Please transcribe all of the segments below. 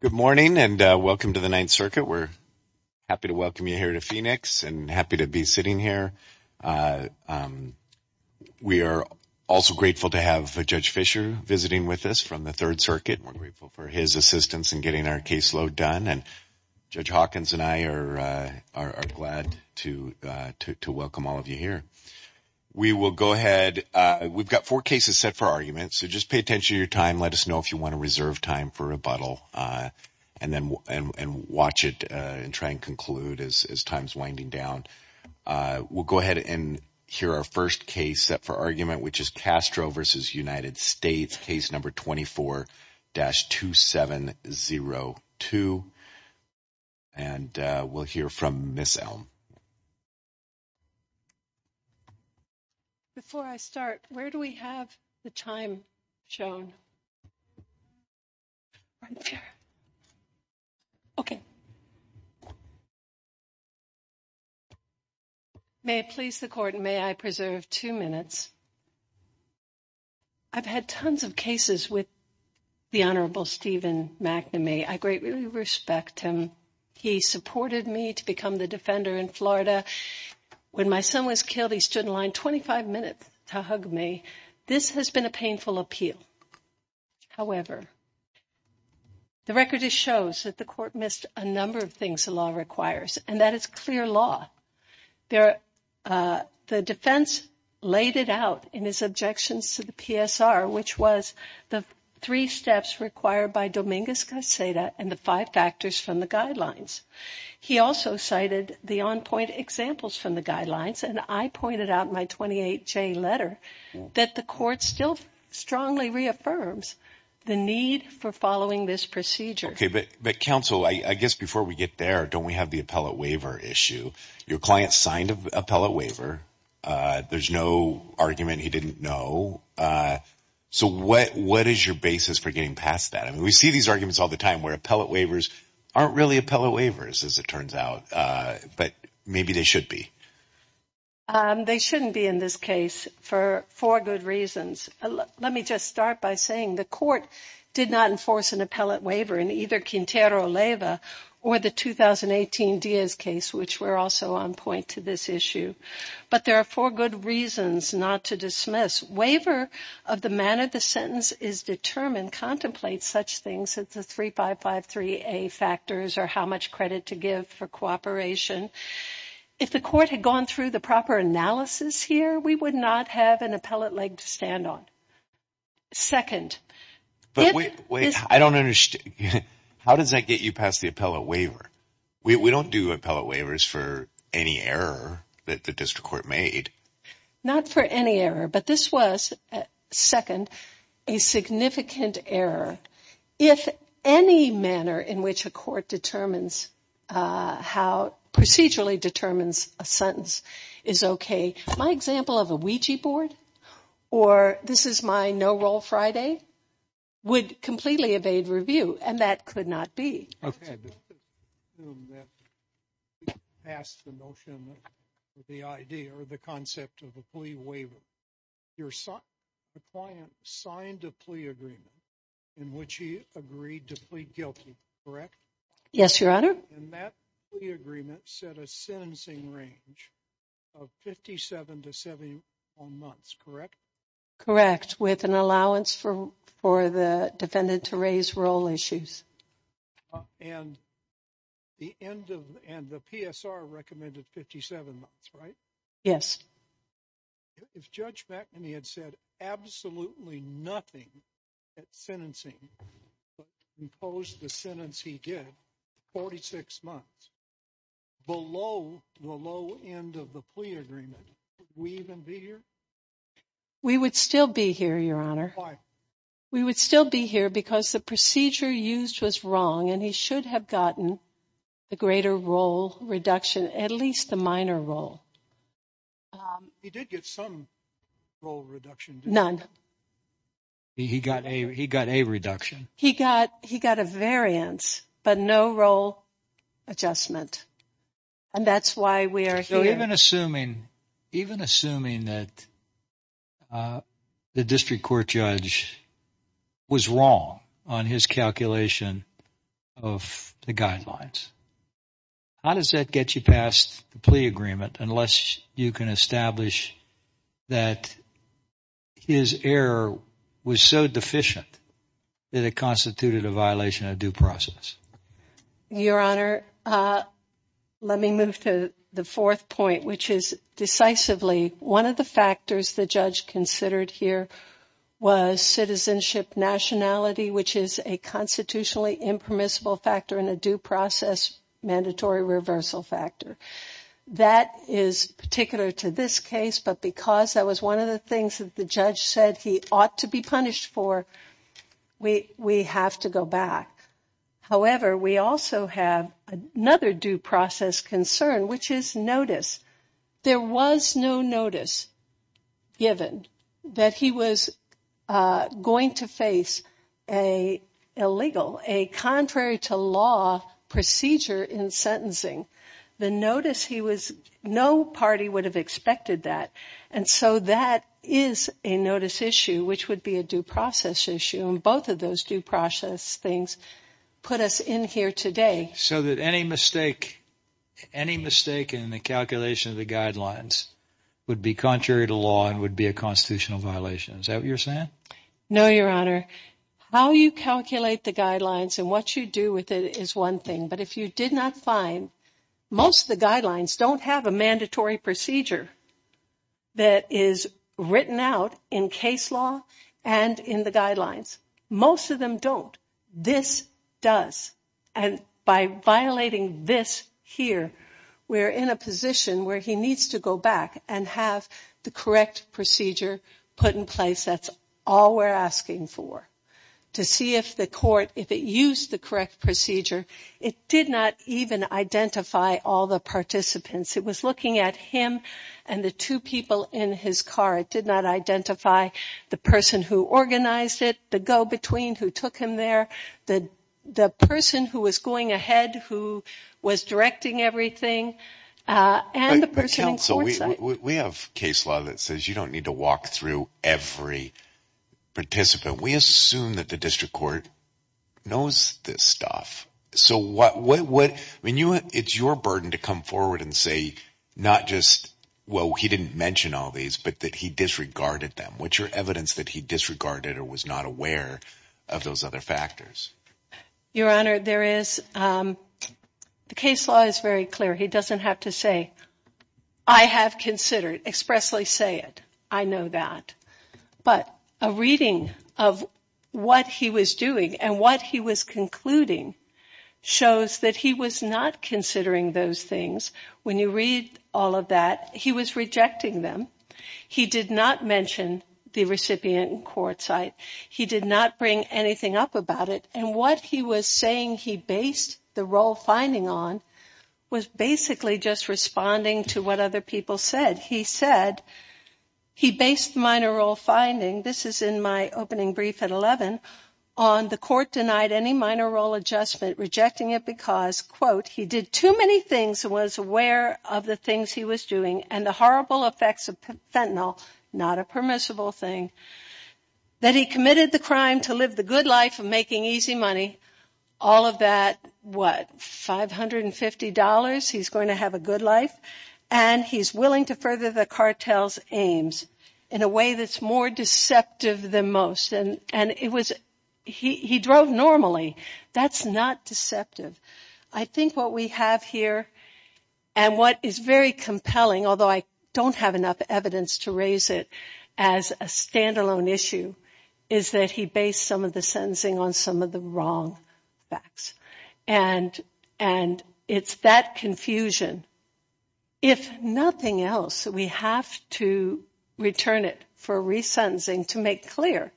Good morning and welcome to the Ninth Circuit. We're happy to welcome you here to Phoenix and happy to be sitting here. We are also grateful to have Judge Fischer visiting with us from the Third Circuit. We're grateful for his assistance in getting our caseload done and Judge Hawkins and I are glad to welcome all of you here. We will go ahead. We've got four cases set for argument, so just pay attention to your time. Let us know if you want to reserve time for rebuttal and then watch it and try and conclude as time's winding down. We'll go ahead and hear our first case set for argument, which is Castro v. United States, case number 24-2702. And we'll hear from Ms. Elm. Before I start, where do we have the time shown? Okay. May it please the Court, may I preserve two minutes? I've had tons of cases with the Honorable Stephen McNamee. I greatly respect him. He supported me to become the defender in Florida. When my son was killed, he stood in line 25 minutes to hug me. This has been a painful appeal. However, the record shows that the Court missed a number of things the law requires, and that is clear law. The defense laid it out in his objections to the PSR, which was the three steps required by Dominguez-Gonzalez and the five factors from the guidelines. He also cited the on-point examples from the guidelines, and I pointed out in my 28-J letter that the Court still strongly reaffirms the need for following this procedure. Okay. But counsel, I guess before we get there, don't we have the appellate waiver issue? Your client signed an appellate waiver. There's no argument he didn't know. So what is your basis for getting past that? I mean, we see these arguments all the time where appellate waivers aren't really appellate waivers, as it turns out, but maybe they should be. They shouldn't be in this case for four good reasons. Let me just start by saying the Court did not enforce an appellate waiver in either Quintero-Leyva or the 2018 Diaz case, which were also on point to this issue. But there are four good reasons not to dismiss. Waiver of the manner the sentence is determined contemplates such things as the 3553A factors or how much credit to give for cooperation. If the Court had gone through the proper analysis here, we would not have an appellate leg to stand on. Second... But wait, wait, I don't understand. How does that get you past the appellate waiver? We don't do appellate waivers for any error that the District Court made. Not for any error, but this was, second, a significant error. If any manner in which a court procedurally determines a sentence is okay. My example of a Ouija board, or this is my no-roll Friday, would completely evade review, and that could not be. I had to assume that you passed the notion, the idea, or the concept of a plea waiver. Your client signed a plea agreement in which he agreed to plead guilty, correct? Yes, Your Honor. And that agreement set a sentencing range of 57 to 71 months, correct? Correct, with an allowance for the defendant to raise roll issues. And the PSR recommended 57 months, right? Yes. If Judge McNamee had said absolutely nothing at sentencing, but imposed the sentence he did, 46 months, below the low end of the plea agreement, would we even be here? We would still be here, Your Honor. Why? We would still be here because the procedure used was wrong, and he should have gotten a greater roll reduction, at least a minor roll. He did get some roll reduction, didn't he? He got a reduction. He got a variance, but no roll adjustment. And that's why we are here. So even assuming that the district court judge was wrong on his calculation of the guidelines, how does that get you past the plea agreement unless you can establish that his error was so deficient that it constituted a violation of due process? Your Honor, let me move to the fourth point, which is decisively one of the factors the judge considered here was citizenship nationality, which is a constitutionally impermissible factor and a due process mandatory reversal factor. That is particular to this case, but because that was one of the things that the judge said he ought to be punished for, we have to go back. However, we also have another due process concern, which is notice. There was no notice given that he was going to face a illegal, a contrary to law procedure in sentencing. The notice, he was, no party would have expected that. And so that is a notice issue, which would be a due process issue. And both of those due process things put us in here today. So that any mistake, any mistake in the calculation of the guidelines would be contrary to law and would be a constitutional violation. Is that what you're saying? No, Your Honor. How you calculate the guidelines and what you do with it is one thing. But if you did not find most of the guidelines don't have a mandatory procedure that is written out in case law and in the guidelines, most of them don't. This does. And by violating this here, we're in a position where he needs to go back and have the correct procedure put in place. That's all we're asking for. To see if the court, if it used the correct procedure, it did not even identify all the participants. It was looking at him and the two people in his car. It did not identify the person who organized it, the go-between who took him there, the person who was going ahead, who was directing everything, and the person on court side. We have case law that says you don't need to walk through every participant. We assume that the district court knows this stuff. So what, I mean, it's your burden to come forward and say, not just, well, he didn't mention all these, but that he disregarded them. What's your evidence that he disregarded or was not aware of those other factors? Your Honor, there is, the case law is very clear. He doesn't have to say, I have considered, expressly say it. I know that. But a reading of what he was doing and what he was concluding shows that he was not considering those things. When you read all of that, he was rejecting them. He did not mention the recipient in court side. He did not bring anything up about it. And what he was saying he based the role finding on was basically just responding to what other people said. He said he based the minor role finding, this is in my opening brief at 11, on the court denied any minor role adjustment, rejecting it because, quote, he did too many things and was aware of the things he was doing and the horrible effects of fentanyl, not a permissible thing. That he committed the crime to live the good life of making easy money. All of that, what, $550? He's going to have a good life. And he's willing to further the cartel's aims in a way that's more deceptive than most. And it was, he drove normally. That's not deceptive. I think what we have here and what is very compelling, although I don't have enough evidence to raise it as a standalone issue, is that he based some of the sentencing on some of the wrong facts. And it's that confusion. If nothing else, we have to return it for resentencing to make clear.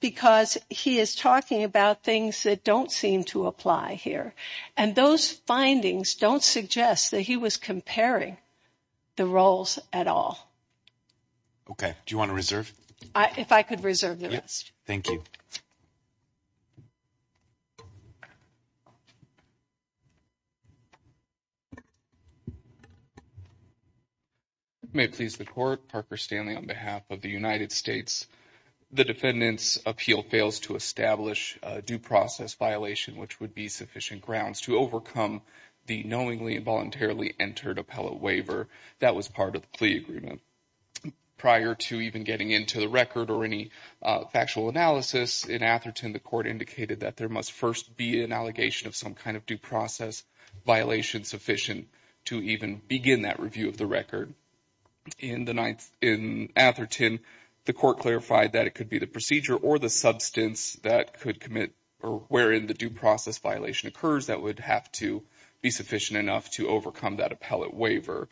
Because he is talking about things that don't seem to apply here. And those findings don't suggest that he was comparing the roles at all. Okay. Do you want to reserve? If I could reserve the rest. Thank you. May it please the court. Parker Stanley on behalf of the United States. The defendant's appeal fails to establish a due process violation which would be sufficient grounds to overcome the knowingly and voluntarily entered appellate waiver that was part of the plea agreement. Prior to even getting into the record or any factual analysis in Atherton, the court indicated that there must first be an allegation of some kind of due process violation sufficient to even begin that review of the record. In Atherton, the court clarified that it could be the procedure or the substance that could commit or wherein the due process violation occurs that would have to be sufficient enough to overcome that appellate waiver.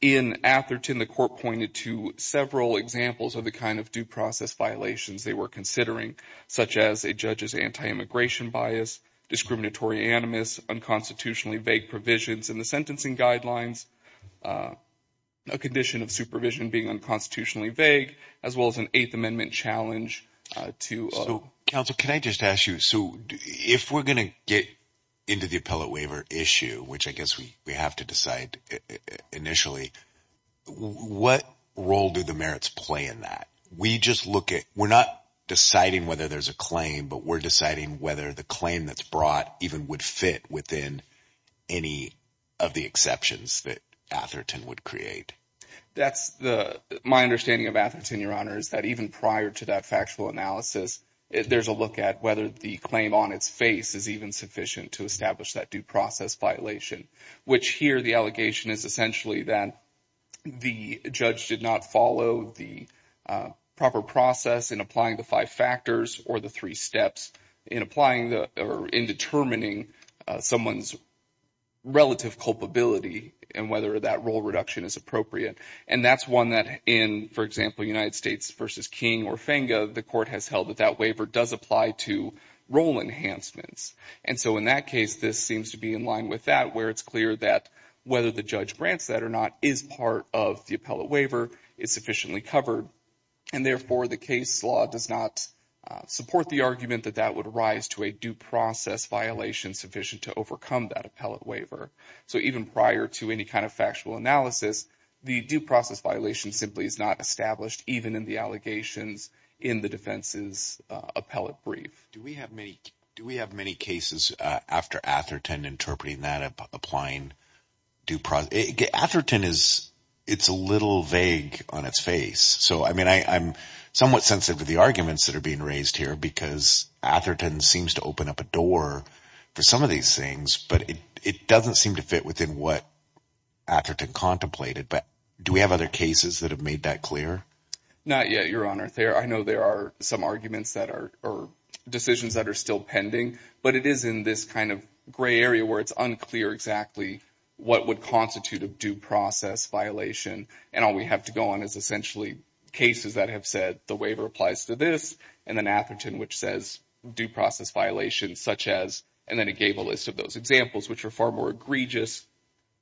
In Atherton, the court pointed to several examples of the kind of due process violations they were considering, such as a judge's anti-immigration bias, discriminatory animus, unconstitutionally vague provisions in the sentencing guidelines. A condition of supervision being unconstitutionally vague, as well as an Eighth Amendment challenge. Counsel, can I just ask you, so if we're going to get into the appellate waiver issue, which I guess we have to decide initially, what role do the merits play in that? We just look at, we're not deciding whether there's a claim, but we're deciding whether the claim that's brought even would fit within any of the exceptions that Atherton would create. That's the, my understanding of Atherton, Your Honor, is that even prior to that factual analysis, there's a look at whether the claim on its face is even sufficient to establish that due process violation. Which here, the allegation is essentially that the judge did not follow the proper process in applying the five factors or the three steps in applying or in determining someone's relative culpability and whether that role reduction is appropriate. And that's one that in, for example, United States versus King or Fenga, the court has held that that waiver does apply to role enhancements. And so in that case, this seems to be in line with that, where it's clear that whether the judge grants that or not is part of the appellate waiver, is sufficiently covered. And therefore, the case law does not support the argument that that would rise to a due process violation sufficient to overcome that appellate waiver. So even prior to any kind of factual analysis, the due process violation simply is not established even in the allegations in the defense's appellate brief. Do we have many cases after Atherton interpreting that applying due process? Atherton is, it's a little vague on its face. So, I mean, I'm somewhat sensitive to the arguments that are being raised here because Atherton seems to open up a door for some of these things, but it doesn't seem to fit within what Atherton contemplated. But do we have other cases that have made that clear? Not yet, Your Honor. I know there are some arguments that are or decisions that are still pending, but it is in this kind of gray area where it's unclear exactly what would constitute a due process violation. And all we have to go on is essentially cases that have said the waiver applies to this and then Atherton, which says due process violations such as, and then it gave a list of those examples, which are far more egregious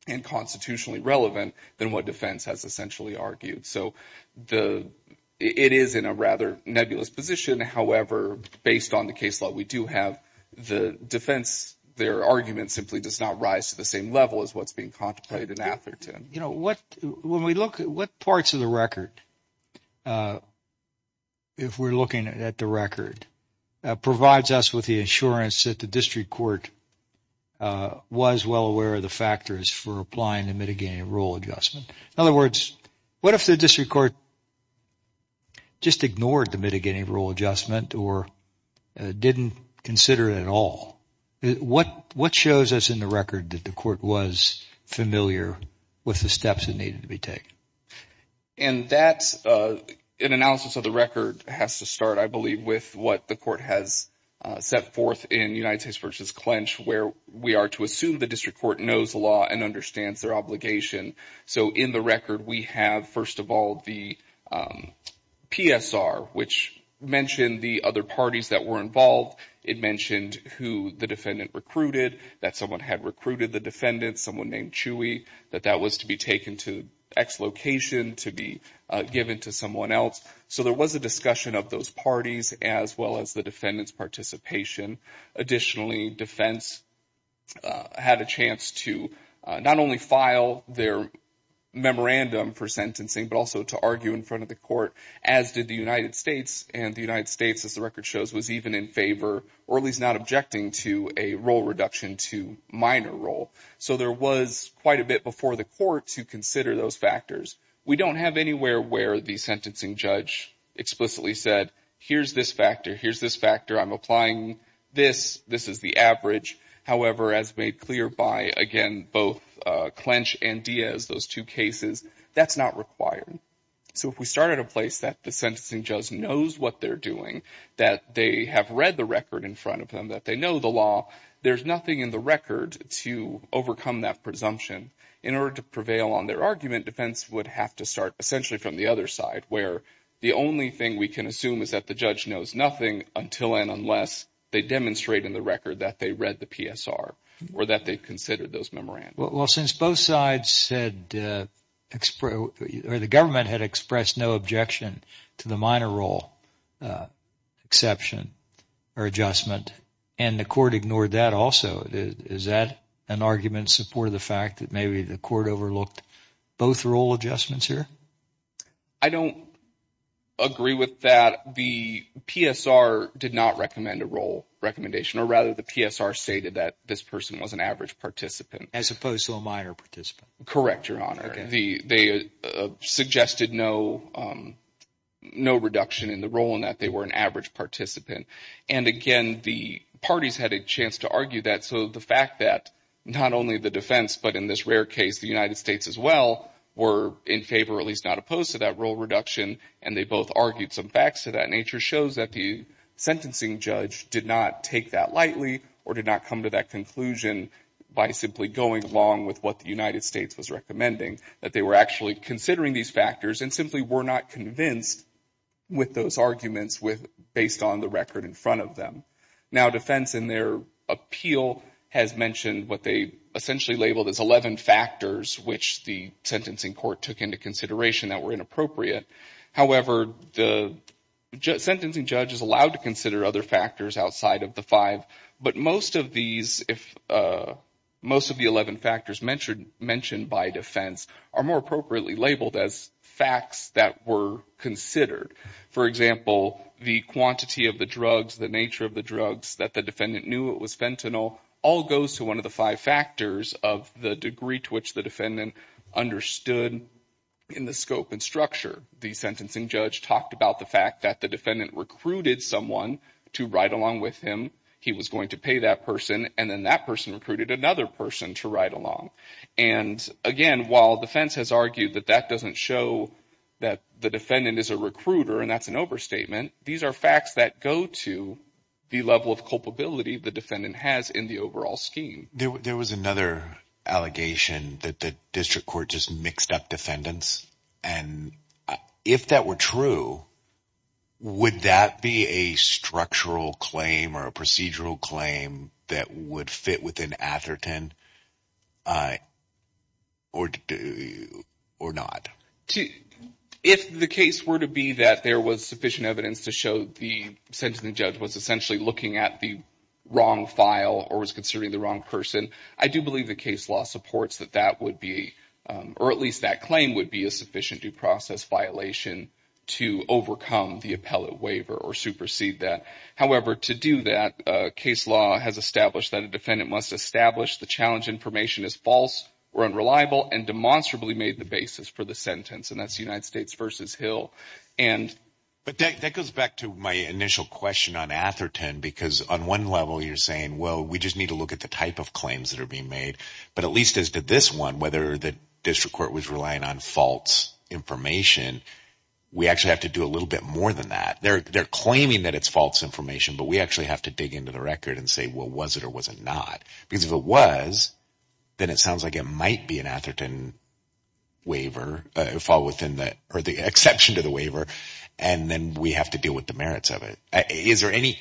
and constitutionally relevant than what defense has essentially argued. So it is in a rather nebulous position. However, based on the case law we do have, the defense, their argument simply does not rise to the same level as what's being contemplated in Atherton. When we look at what parts of the record, if we're looking at the record, provides us with the assurance that the district court was well aware of the factors for applying the mitigating rule adjustment. In other words, what if the district court just ignored the mitigating rule adjustment or didn't consider it at all? What shows us in the record that the court was familiar with the steps that needed to be taken? And that's an analysis of the record has to start, I believe, with what the court has set forth in United States v. Clench, where we are to assume the district court knows the law and understands their obligation. So in the record, we have, first of all, the PSR, which mentioned the other parties that were involved. It mentioned who the defendant recruited, that someone had recruited the defendant, someone named Chewy, that that was to be taken to X location to be given to someone else. So there was a discussion of those parties as well as the defendant's participation. Additionally, defense had a chance to not only file their memorandum for sentencing, but also to argue in front of the court, as did the United States. And the United States, as the record shows, was even in favor or at least not objecting to a role reduction to minor role. So there was quite a bit before the court to consider those factors. We don't have anywhere where the sentencing judge explicitly said, here's this factor, here's this factor. I'm applying this. This is the average. However, as made clear by, again, both Clench and Diaz, those two cases, that's not required. So if we start at a place that the sentencing judge knows what they're doing, that they have read the record in front of them, that they know the law, there's nothing in the record to overcome that presumption. In order to prevail on their argument, defense would have to start essentially from the other side, where the only thing we can assume is that the judge knows nothing until and unless they demonstrate in the record that they read the PSR or that they've considered those memorandums. Well, since both sides said, or the government had expressed no objection to the minor role exception or adjustment, and the court ignored that also, is that an argument in support of the fact that maybe the court overlooked both role adjustments here? I don't agree with that. The PSR did not recommend a role recommendation, or rather the PSR stated that this person was an average participant. As opposed to a minor participant. Correct, Your Honor. They suggested no reduction in the role in that they were an average participant. And again, the parties had a chance to argue that. So the fact that not only the defense, but in this rare case, the United States as well, were in favor or at least not opposed to that role reduction, and they both argued some facts to that nature, shows that the sentencing judge did not take that lightly or did not come to that conclusion by simply going along with what the United States was recommending, that they were actually considering these factors and simply were not convinced with those arguments based on the record in front of them. Now, defense in their appeal has mentioned what they essentially labeled as 11 factors which the sentencing court took into consideration that were inappropriate. However, the sentencing judge is allowed to consider other factors outside of the five, but most of these, most of the 11 factors mentioned by defense are more appropriately labeled as facts that were considered. For example, the quantity of the drugs, the nature of the drugs, that the defendant knew it was fentanyl, all goes to one of the five factors of the degree to which the defendant understood in the scope and structure. The sentencing judge talked about the fact that the defendant recruited someone to ride along with him. He was going to pay that person, and then that person recruited another person to ride along. And again, while defense has argued that that doesn't show that the defendant is a recruiter and that's an overstatement, these are facts that go to the level of culpability the defendant has in the overall scheme. There was another allegation that the district court just mixed up defendants, and if that were true, would that be a structural claim or a procedural claim that would fit within Atherton or not? If the case were to be that there was sufficient evidence to show the sentencing judge was essentially looking at the wrong file or was considering the wrong person, I do believe the case law supports that that would be, or at least that claim would be a sufficient due process violation to overcome the appellate waiver or supersede that. However, to do that, case law has established that a defendant must establish the challenge information as false or unreliable and demonstrably made the basis for the sentence, and that's United States v. Hill. But that goes back to my initial question on Atherton, because on one level you're saying, well, we just need to look at the type of claims that are being made, but at least as to this one, whether the district court was relying on false information, we actually have to do a little bit more than that. They're claiming that it's false information, but we actually have to dig into the record and say, well, was it or was it not? Because if it was, then it sounds like it might be an Atherton waiver, or the exception to the waiver, and then we have to deal with the merits of it. Is there any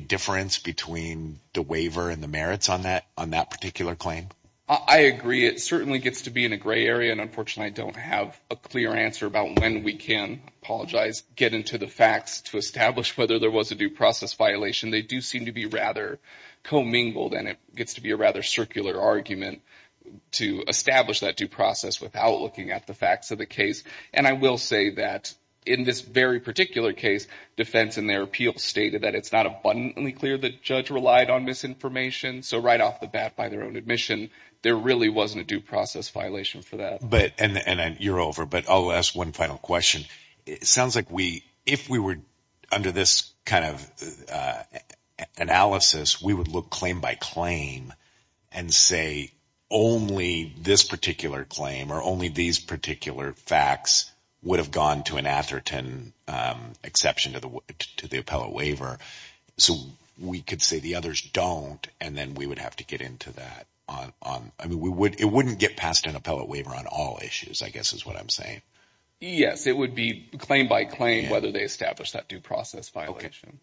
difference between the waiver and the merits on that particular claim? I agree. It certainly gets to be in a gray area, and unfortunately I don't have a clear answer about when we can, I apologize, get into the facts to establish whether there was a due process violation. They do seem to be rather commingled, and it gets to be a rather circular argument to establish that due process without looking at the facts of the case. I will say that in this very particular case, defense in their appeal stated that it's not abundantly clear the judge relied on misinformation, so right off the bat by their own admission, there really wasn't a due process violation for that. You're over, but I'll ask one final question. It sounds like if we were under this kind of analysis, we would look claim by claim and say only this particular claim or only these particular facts would have gone to an Atherton exception to the appellate waiver, so we could say the others don't, and then we would have to get into that. It wouldn't get passed an appellate waiver on all issues, I guess is what I'm saying. Yes. It would be claim by claim whether they established that due process violation.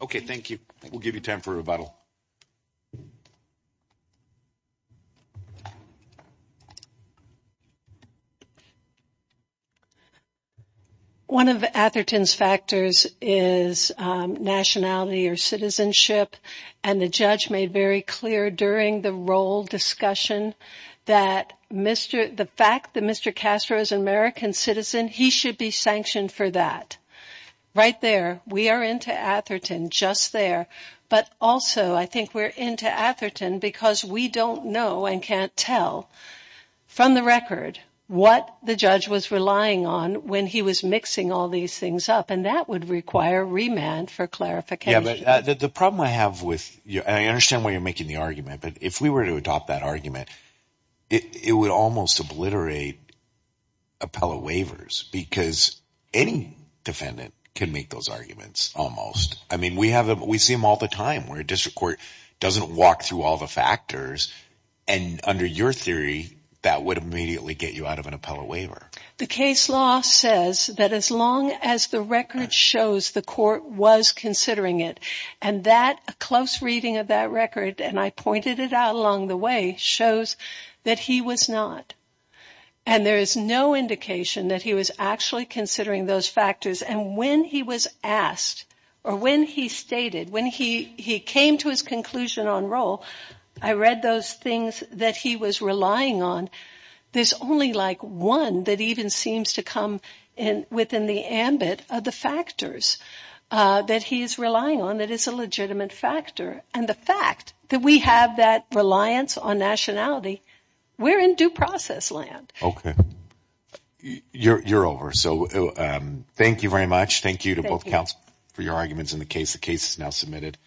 Okay. Thank you. We'll give you time for rebuttal. One of Atherton's factors is nationality or citizenship, and the judge made very clear during the roll discussion that the fact that Mr. Castro is an American citizen, he should be sanctioned for that. Right there, we are into Atherton just there, but also I think we're into Atherton because we don't know and can't tell from the record what the judge was relying on when he was mixing all these things up, and that would require remand for clarification. The problem I have with... I understand why you're making the argument, but if we were to adopt that argument, it would almost obliterate appellate waivers because any defendant can make those arguments almost. We see them all the time where a district court doesn't walk through all the factors, and under your theory, that would immediately get you out of an appellate waiver. The case law says that as long as the record shows the court was considering it, and that close reading of that record, and I pointed it out along the way, shows that he was not, and there is no indication that he was actually considering those factors, and when he was asked, or when he stated, when he came to his conclusion on roll, I read those things that he was relying on, there's only like one that even seems to come within the ambit of the factors that he's relying on that is a legitimate factor, and the fact that we have that reliance on nationality, we're in due process land. Okay. You're over, so thank you very much. Thank you to both counsel for your arguments in the case. The case is now submitted.